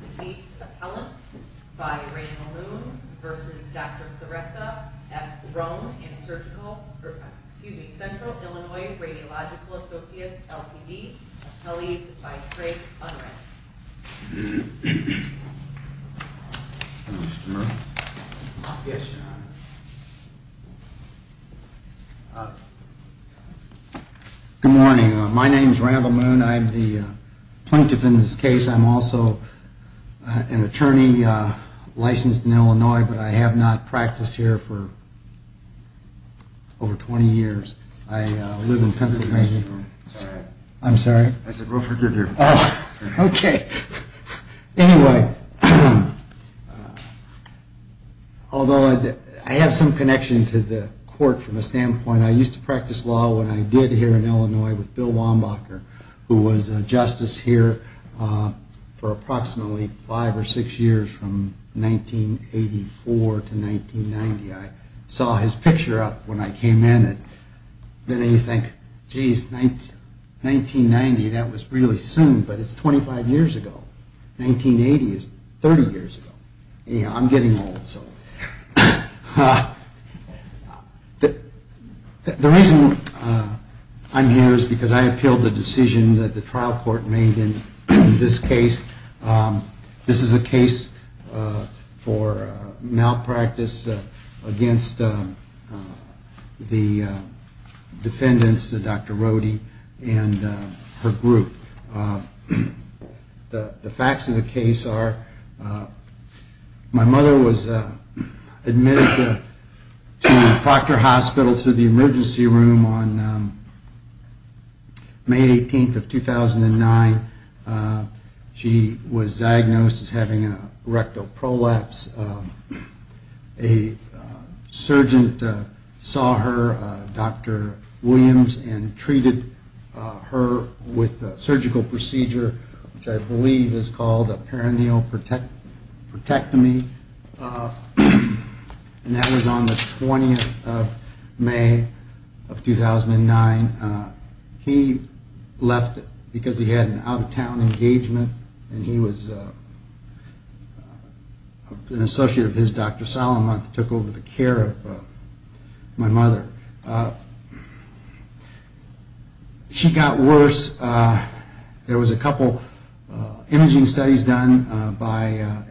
Deceased Appellant by Randall Moon v. Dr. Theresa at Central Illinois Radiological Associates, LPD, Appellees by Craig Unruh. Mr. Moon? Yes, John. Good morning. My name is Randall Moon. I'm the plaintiff in this case. I'm also an attorney licensed in Illinois, but I have not practiced here for over 20 years. I live in Pennsylvania. I'm sorry. I said we'll forgive you. Okay. Anyway, although I have some connection to the court from a standpoint, I used to practice law when I did here in Illinois with Bill Wambacher, who was a justice here for approximately five or six years from 1984 to 1990. I saw his picture up when I came in, and then you think, geez, 1990, that was really soon, but it's 25 years ago. 1980 is 30 years ago. I'm getting old. The reason I'm here is because I appealed the decision that the trial court made in this case. This is a case for malpractice against the defendants, Dr. Rohde and her group. The facts of the case are my mother was admitted to Proctor Hospital to the emergency room on May 18th of 2009. She was diagnosed as having a rectal prolapse. A surgeon saw her, Dr. Williams, and treated her with a surgical procedure, which I believe is called a perineal protectomy, and that was on the 20th of May of 2009. He left because he had an out-of-town engagement, and he was an associate of his, Dr. Solomon, who took over the care of my mother. She got worse. There was a couple imaging studies done,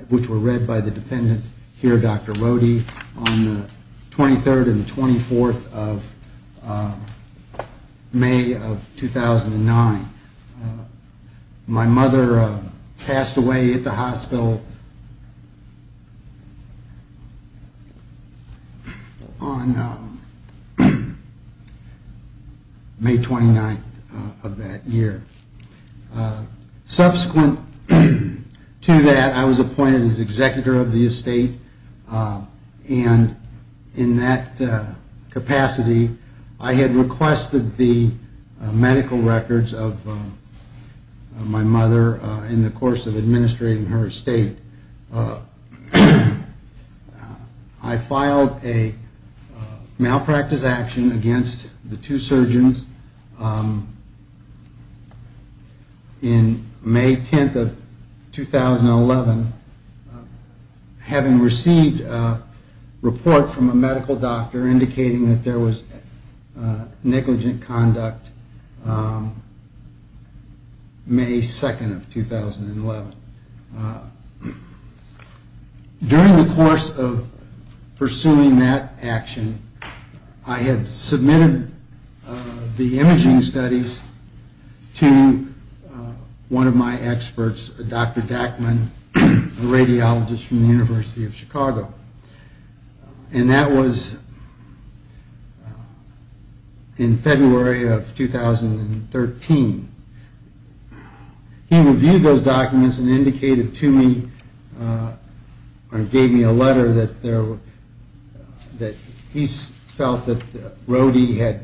which were read by the defendant here, Dr. Rohde, on the 23rd and the 24th of May of 2009. My mother passed away at the hospital on May 29th of that year. Subsequent to that, I was appointed as executor of the estate, and in that capacity, I had requested the medical records of my mother in the course of administrating her estate. I filed a malpractice action against the two surgeons in May 10th of 2011, having received a report from a medical doctor indicating that there was negligent conduct May 2nd of 2011. During the course of pursuing that action, I had submitted the imaging studies to one of my experts, Dr. Dachman, a radiologist from the University of Chicago, and that was in February of 2013. He reviewed those documents and indicated to me or gave me a letter that he felt that Rohde had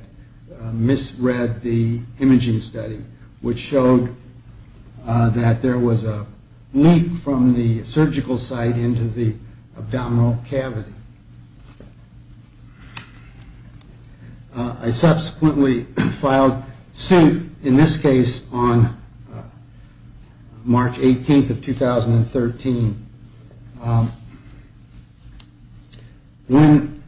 misread the imaging study, which showed that there was a leak from the surgical site into the abdominal cavity. I subsequently filed suit, in this case, on March 18th of 2013. When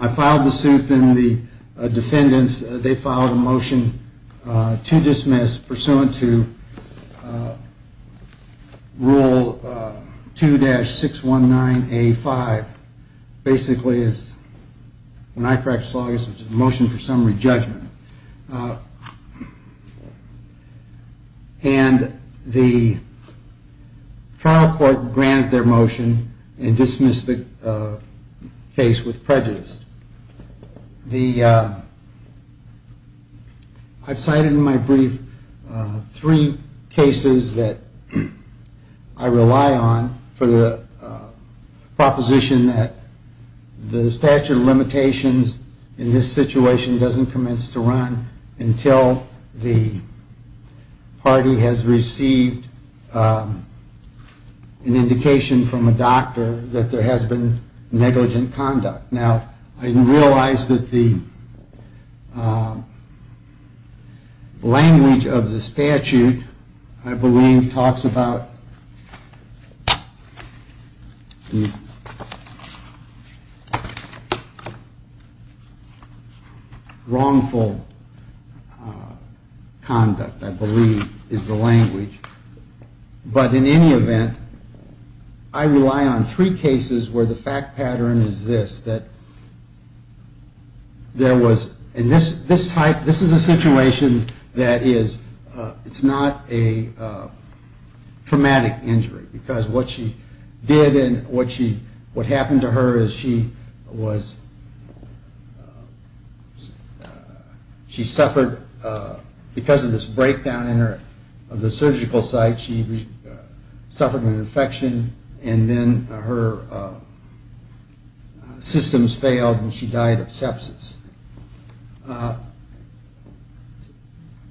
I filed the suit, the defendants filed a motion to dismiss pursuant to Rule 2-619A5, basically a motion for summary judgment. And the trial court granted their motion and dismissed the case with prejudice. I've cited in my brief three cases that I rely on for the proposition that the statute of limitations in this situation doesn't commence to run until the party has received an indication from a doctor that there has been negligent conduct. Now, I realize that the language of the statute, I believe, talks about wrongful conduct, I believe is the language. But in any event, I rely on three cases where the fact pattern is this, that there was, in this type, this is a situation that is, it's not a traumatic injury. Because what she did and what happened to her is she suffered, because of this breakdown of the surgical site, she suffered an infection and then her systems failed and she died of sepsis.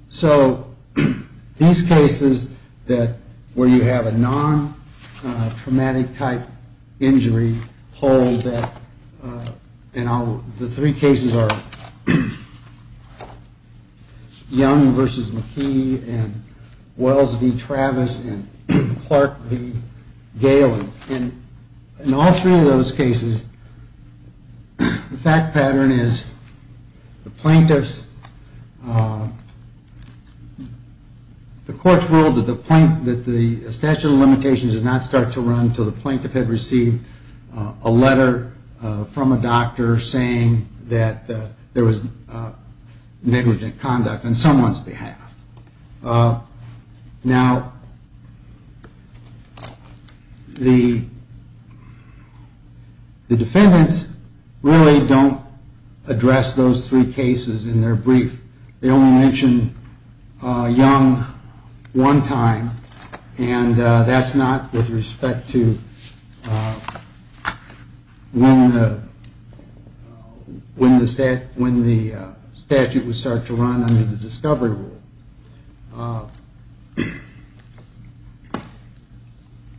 So these cases that, where you have a non-traumatic type injury hold that, and the three cases are Young v. McKee and Wells v. Travis and Clark v. Gailey. In all three of those cases, the fact pattern is the plaintiffs, the court ruled that the statute of limitations does not start to run until the plaintiff had received a letter from a doctor saying that there was negligent conduct on someone's behalf. Now, the defendants really don't address those three cases in their brief, they only mention Young one time and that's not with respect to when the statute would start to run under the discovery rule.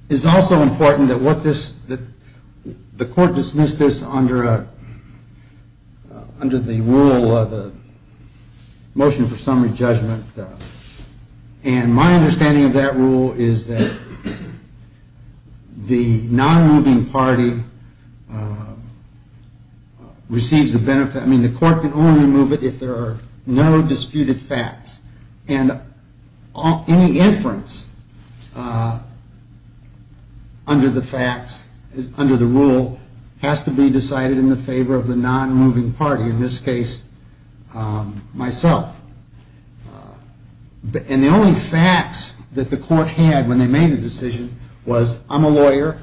It's also important that the court dismiss this under the rule of the motion for summary judgment and my understanding of that rule is that the non-moving party receives the benefit, I mean the court can only move it if there are no disputed facts. And any inference under the facts, under the rule, has to be decided in the favor of the non-moving party, in this case myself. And the only facts that the court had when they made the decision was I'm a lawyer,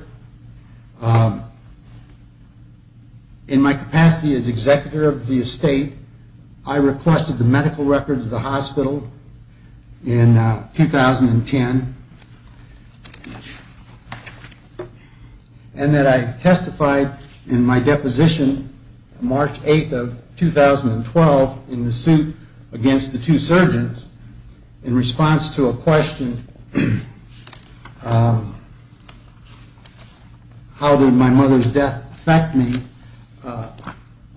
in my capacity as executive of the estate, I requested the medical records of the hospital in 2010, and that I testified in my deposition March 8th of 2012 in the suit against Young v. the two surgeons in response to a question, how did my mother's death affect me,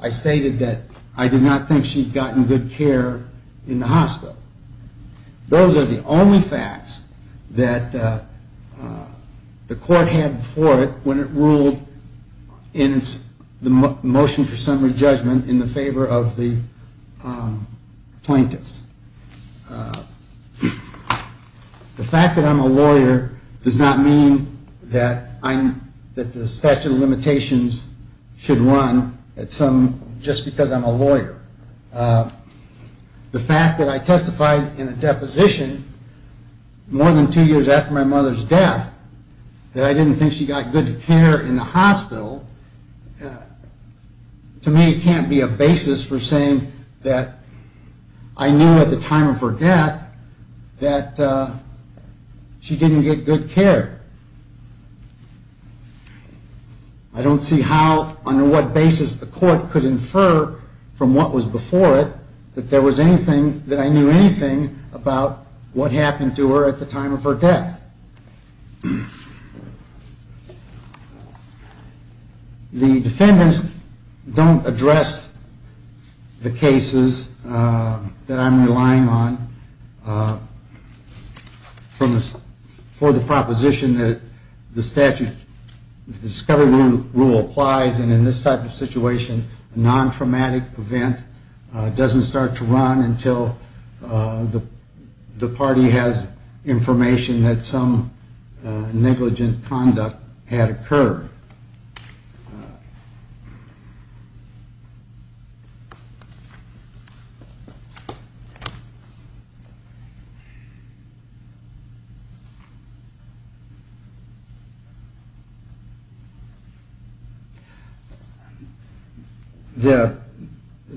I stated that I did not think she had gotten good care in the hospital. Those are the only facts that the court had before it when it ruled in the motion for summary judgment in the favor of the plaintiffs. The fact that I'm a lawyer does not mean that the statute of limitations should run just because I'm a lawyer. The fact that I testified in a deposition more than two years after my mother's death, that I didn't think she got good care in the hospital, to me it can't be a basis for saying that I knew at the time of her death that she didn't get good care. I don't see how, on what basis the court could infer from what was before it that there was anything, that I knew anything about what happened to her at the time of her death. The defendants don't address the cases that I'm relying on for the proposition that the statute, the discovery rule applies, and in this type of situation, a non-traumatic event doesn't start to run until the party has information that some negligent conduct had occurred.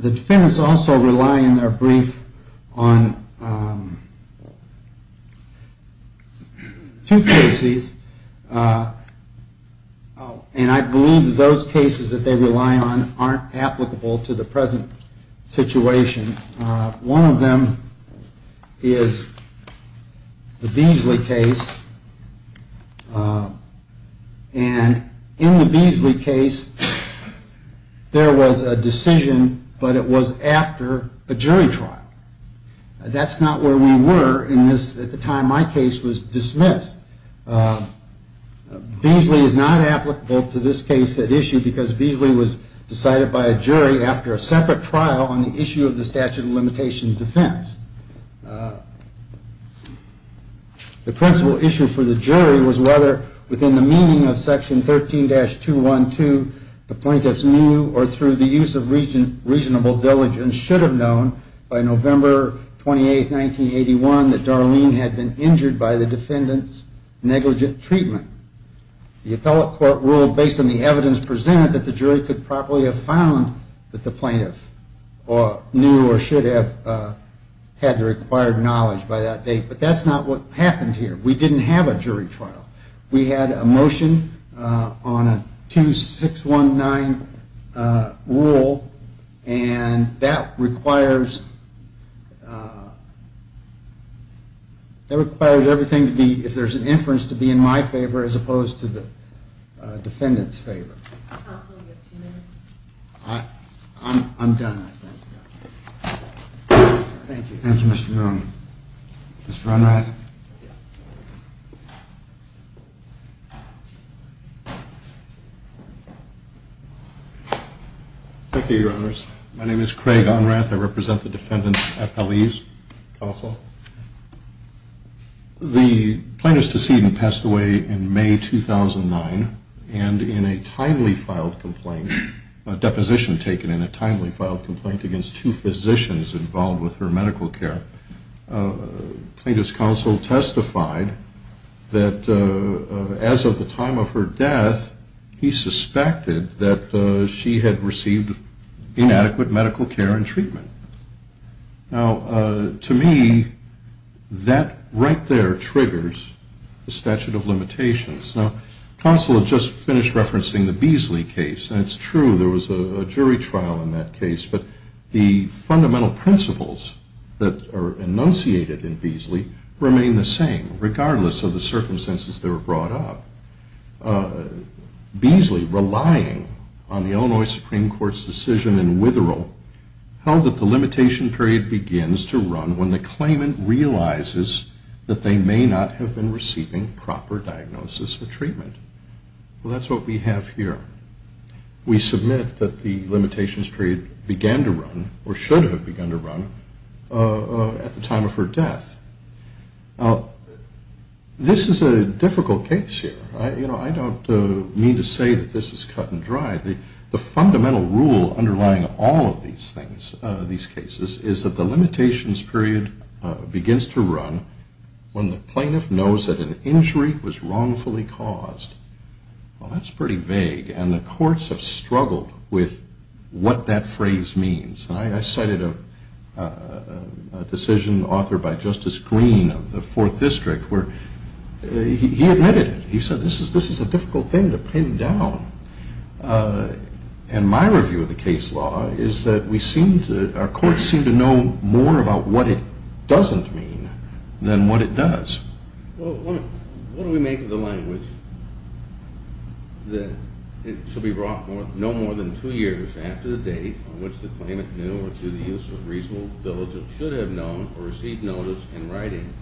The defendants also rely in their brief on two cases, and I believe that those cases that they rely on aren't applicable to the present situation. One of them is the Beasley case, and in the Beasley case, there was a decision, but it was after a jury trial. That's not where we were at the time my case was dismissed. Beasley is not applicable to this case at issue because Beasley was decided by a jury after a separate trial on the issue of the statute of limitation defense. The principal issue for the jury was whether within the meaning of section 13-212, the plaintiffs knew or through the use of reasonable diligence should have known by November 28, 1981, that Darlene had been injured by the defendant's negligent treatment. The appellate court ruled based on the evidence presented that the jury could probably have found that the plaintiff knew or should have known. But that's not what happened here. We didn't have a jury trial. We had a motion on a 2619 rule, and that requires everything to be, if there's an inference, to be in my favor as opposed to the defendant's favor. I'm done. Thank you, Mr. Norman. Thank you, Your Honors. My name is Craig Onrath. I represent the defendants' appellees. The plaintiff's decedent passed away in May 2009, and in a timely filed complaint, a deposition taken in a timely filed complaint against two physicians involved with her medical care, plaintiff's counsel testified that as of the time of her death, he suspected that she had received inadequate medical care and treatment. Now, to me, that right there triggers the statute of limitations. Now, counsel had just finished referencing the Beasley case, and it's true there was a jury trial in that case, but the fundamental principles that are enunciated in Beasley remain the same regardless of the circumstances they were brought up. Beasley, relying on the Illinois Supreme Court's decision in Witherell, held that the limitation period begins to run when the claimant realizes that they may not have been receiving proper diagnosis or treatment. Well, that's what we have here. We submit that the limitations period began to run, or should have begun to run, at the time of her death. Now, this is a difficult case here. You know, I don't mean to say that this is cut and dry. The fundamental rule underlying all of these things, these cases, is that the limitations period begins to run when the plaintiff knows that an injury was wrongfully caused. Well, that's pretty vague, and the courts have struggled with what that phrase means. And I cited a decision authored by Justice Greene of the Fourth District where he admitted it. He said, this is a difficult thing to pin down. And my review of the case law is that we seem to, our courts seem to know more about what it doesn't mean than what it does. Well, what do we make of the language that it shall be brought no more than two years after the date on which the claimant has been convicted? The plaintiff knew, or to the use of reasonable diligence, should have known or received notice in writing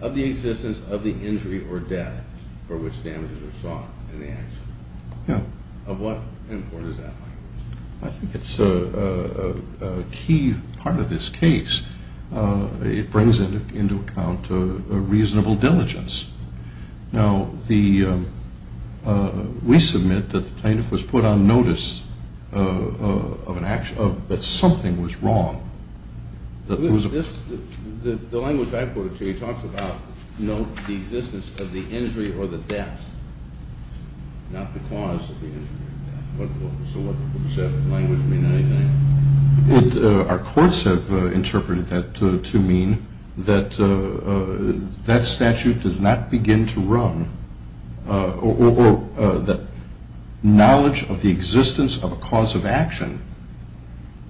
of the existence of the injury or death for which damages are sought in the action. Of what import is that language? I think it's a key part of this case. It brings into account a reasonable diligence. Now, we submit that the plaintiff was put on notice of an action, that something was wrong. The language I quoted to you talks about, note the existence of the injury or the death, not the cause of the injury or death. So does that language mean anything? Our courts have interpreted that to mean that that statute does not begin to run, or that knowledge of the existence of a cause of action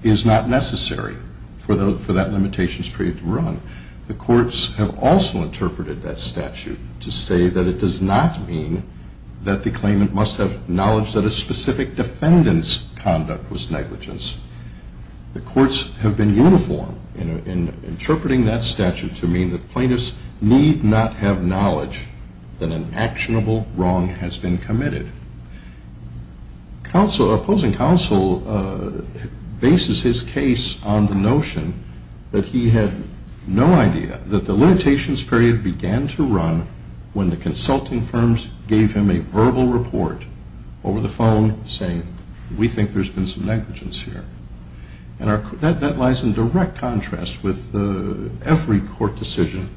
is not necessary for that limitations period to run. The courts have also interpreted that statute to say that it does not mean that the claimant must have knowledge that a specific defendant's conduct was negligence. The courts have been uniform in interpreting that statute to mean that plaintiffs need not have knowledge that an actionable wrong has been committed. Our opposing counsel bases his case on the notion that he had no idea that the limitations period began to run when the consulting firms gave him a verbal report over the phone saying, we think there's been some negligence here. And that lies in direct contrast with every court decision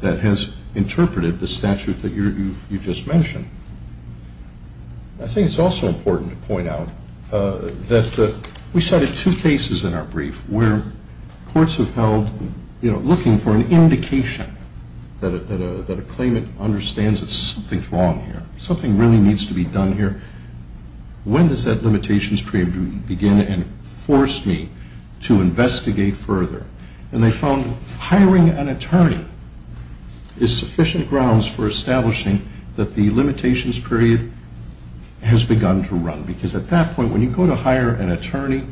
that has interpreted the statute that you just mentioned. I think it's also important to point out that we cited two cases in our brief where courts have held, you know, looking for an indication that a claimant understands that something's wrong here, something really needs to be done here. When does that limitations period begin and force me to investigate further? And they found hiring an attorney is sufficient grounds for establishing that the limitations period has begun to run. Because at that point, when you go to hire an attorney,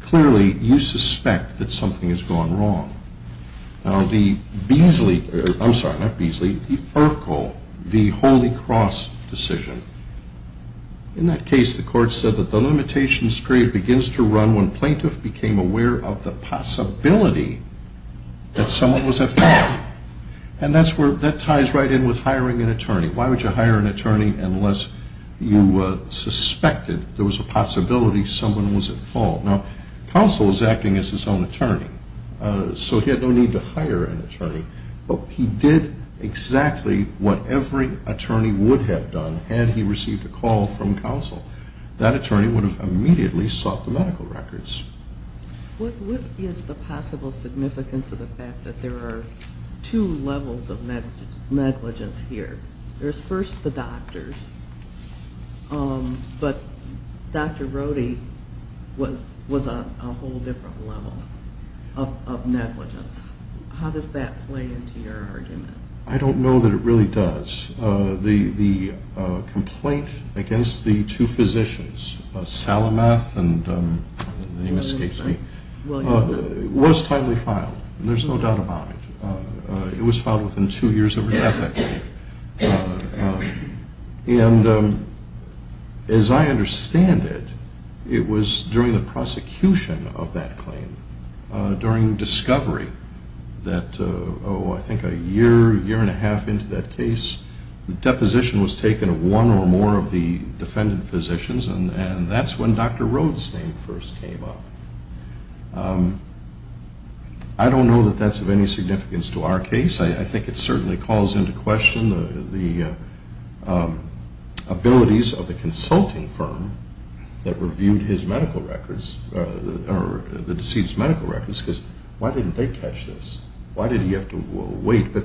clearly you suspect that something has gone wrong. Now the Beasley, I'm sorry, not Beasley, the Urkel, the Holy Cross decision. In that case, the court said that the limitations period begins to run when plaintiff became aware of the possibility that someone was at fault. And that's where, that ties right in with hiring an attorney. Why would you hire an attorney unless you suspected there was a possibility someone was at fault? Now, counsel is acting as his own attorney, so he had no need to hire an attorney. But he did exactly what every attorney would have done had he received a call from counsel. That attorney would have immediately sought the medical records. What is the possible significance of the fact that there are two levels of negligence here? There's first the doctors, but Dr. Rohde was a whole different level of negligence. How does that play into your argument? I don't know that it really does. The complaint against the two physicians, Salamath and, the name escapes me, was tightly filed. There's no doubt about it. It was filed within two years of her death, I think. And as I understand it, it was during the prosecution of that claim, during discovery, that, oh, I think a year, year and a half into that case, the deposition was taken of one or more of the defendant physicians, and that's when Dr. Rohde's name first came up. I don't know that that's of any significance to our case. I think it certainly calls into question the abilities of the consulting firm that reviewed his medical records, or the deceased's medical records, because why didn't they catch this? Why did he have to wait? But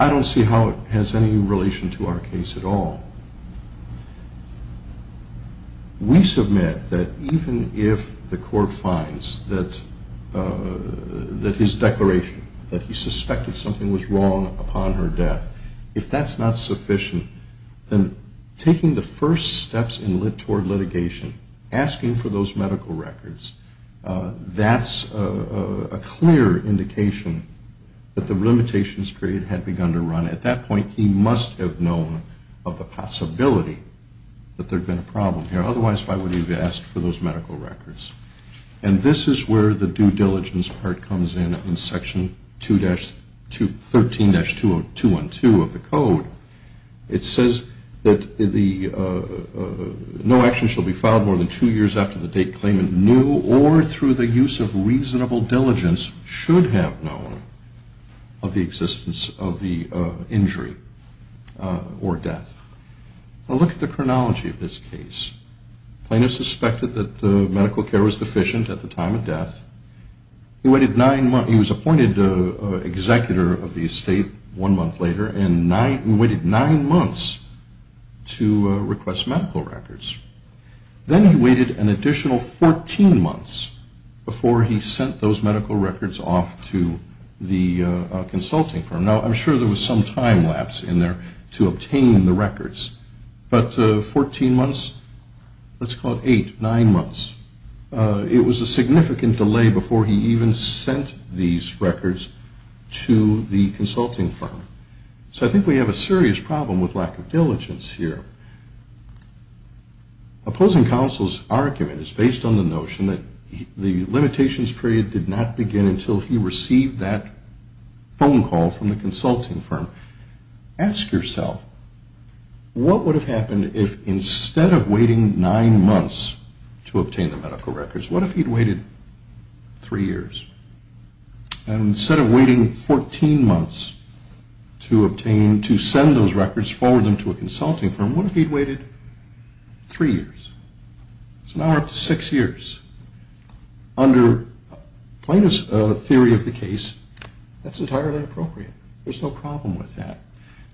I don't see how it has any relation to our case at all. We submit that even if the court finds that his declaration, that he suspected something was wrong upon her death, if that's not sufficient, then taking the first steps toward litigation, asking for those medical records, that's a clear indication that the limitations period had begun to run. At that point, he must have known of the possibility that there had been a problem here. Otherwise, why would he have asked for those medical records? And this is where the due diligence part comes in, in Section 13-212 of the Code. It says that no action shall be filed more than two years after the date claimant knew, or through the use of reasonable diligence should have known, of the existence of the injury or death. Now look at the chronology of this case. The plaintiff suspected that medical care was deficient at the time of death. He was appointed executor of the estate one month later and waited nine months to request medical records. Then he waited an additional 14 months before he sent those medical records off to the consulting firm. Now I'm sure there was some time lapse in there to obtain the records, but 14 months, let's call it eight, nine months, it was a significant delay before he even sent these records to the consulting firm. So I think we have a serious problem with lack of diligence here. Opposing counsel's argument is based on the notion that the limitations period did not begin until he received that phone call from the consulting firm. Ask yourself, what would have happened if instead of waiting nine months to obtain the medical records, what if he'd waited three years? And instead of waiting 14 months to send those records, forward them to a consulting firm, what if he'd waited three years? So now we're up to six years. Under Plano's theory of the case, that's entirely appropriate. There's no problem with that.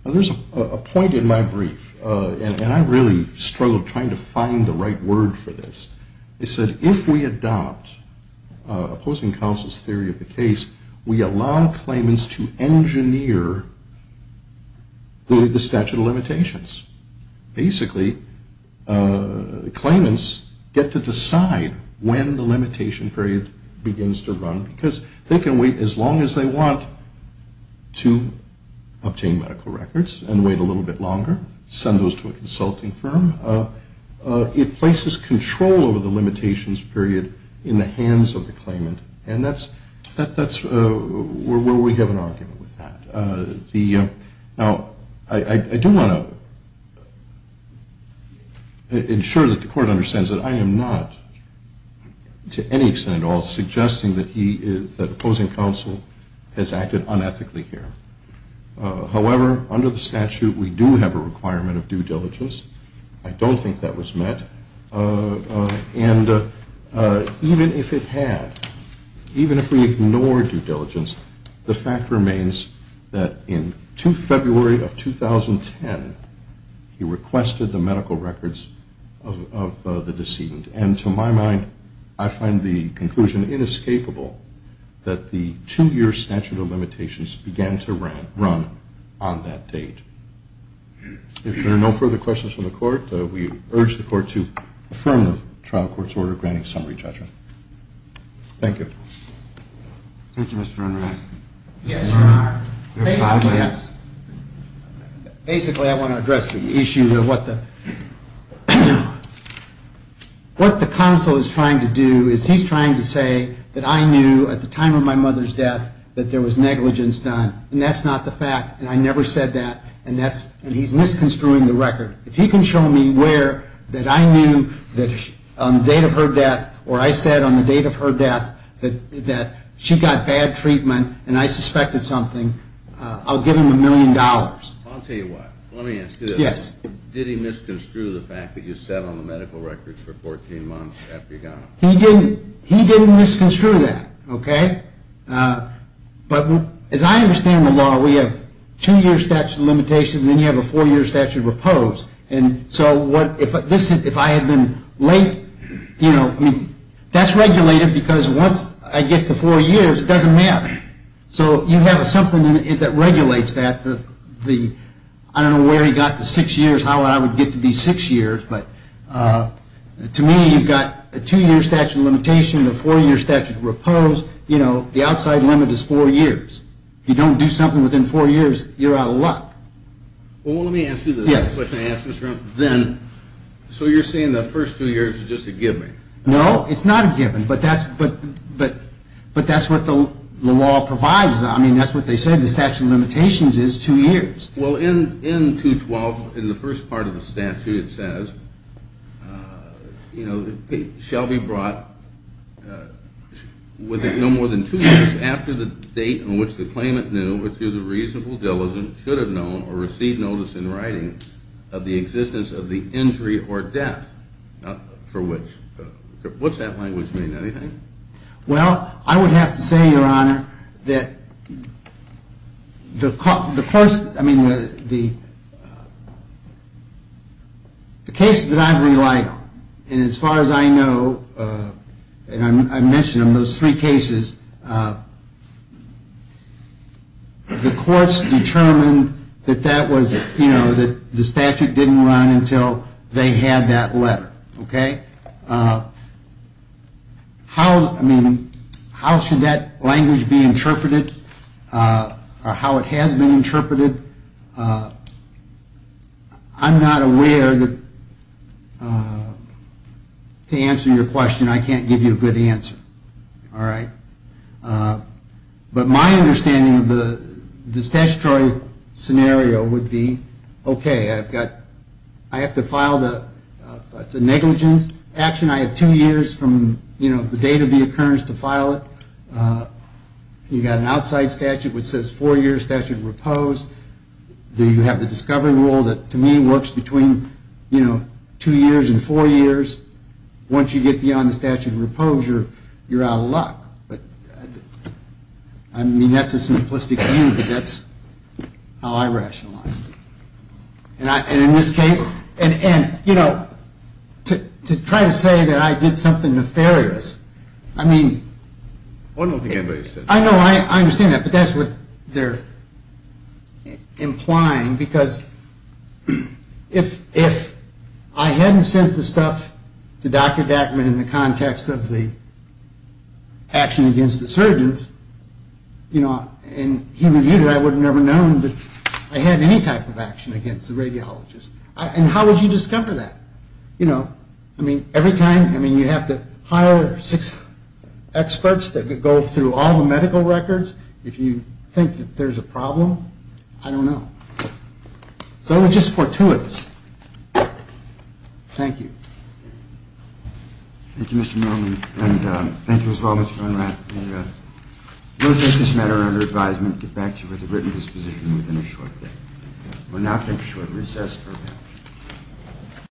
There's a point in my brief, and I really struggled trying to find the right word for this. It said if we adopt opposing counsel's theory of the case, we allow claimants to engineer the statute of limitations. Basically, claimants get to decide when the limitation period begins to run, because they can wait as long as they want to obtain medical records and wait a little bit longer, send those to a consulting firm. It places control over the limitations period in the hands of the claimant, and that's where we have an argument with that. Now, I do want to ensure that the Court understands that I am not, to any extent at all, suggesting that opposing counsel has acted unethically here. However, under the statute, we do have a requirement of due diligence. I don't think that was met, and even if it had, even if we ignored due diligence, the fact remains that in February of 2010, he requested the medical records of the decedent, and to my mind, I find the conclusion inescapable that the two-year statute of limitations began to run on that date. If there are no further questions from the Court, we urge the Court to affirm the trial court's order granting summary judgment. Thank you. Thank you, Mr. Enright. Basically, I want to address the issue of what the counsel is trying to do is he's trying to say that I knew at the time of my mother's death that there was negligence done, and that's not the fact, and I never said that, and he's misconstruing the record. If he can show me where that I knew on the date of her death, or I said on the date of her death that she got bad treatment, and I suspected something, I'll give him a million dollars. I'll tell you what. Let me ask you this. He didn't misconstrue that, okay? But as I understand the law, we have two-year statute of limitations, and then you have a four-year statute of repose, and so if I had been late, that's regulated, because once I get to four years, it doesn't matter. So you have something that regulates that. I don't know where he got the six years, how I would get to be six years, but to me, you've got a two-year statute of limitation, and a four-year statute of repose. The outside limit is four years. If you don't do something within four years, you're out of luck. Well, let me ask you this. So you're saying the first two years is just a given? No, it's not a given, but that's what the law provides. I mean, that's what they say the statute of limitations is, two years. Well, in 212, in the first part of the statute, it says, Shelby brought no more than two years after the date on which the claimant knew or through the reasonable diligence should have known or received notice in writing of the existence of the injury or death for which, what's that language mean, anything? Well, I would have to say, Your Honor, that the cases that I've relied on, and as far as I know, and I mentioned them, those three cases, the courts determined that the statute didn't run until they had that letter. Okay? I mean, how should that language be interpreted or how it has been interpreted? I'm not aware that, to answer your question, I can't give you a good answer. All right? But my understanding of the statutory scenario would be, okay, I have to file the negligence action. I have two years from the date of the occurrence to file it. You've got an outside statute which says four years statute of repose. You have the discovery rule that, to me, works between two years and four years. Once you get beyond the statute of repose, you're out of luck. I mean, that's a simplistic view, but that's how I rationalize it. And in this case, and, you know, to try to say that I did something nefarious, I mean, I know I understand that, but that's what they're implying, because if I hadn't sent the stuff to Dr. Dackman in the context of the action against the surgeons, you know, and he reviewed it, I would have never known that I had any type of action against the radiologists. And how would you discover that? You know, I mean, every time, I mean, you have to hire six experts that could go through all the medical records. If you think that there's a problem, I don't know. So it was just for two of us. Thank you. Thank you, Mr. Merriman, and thank you as well, Mr. Von Rath. We'll take this matter under advisement and get back to you with a written disposition within a short day. We'll now take a short recess.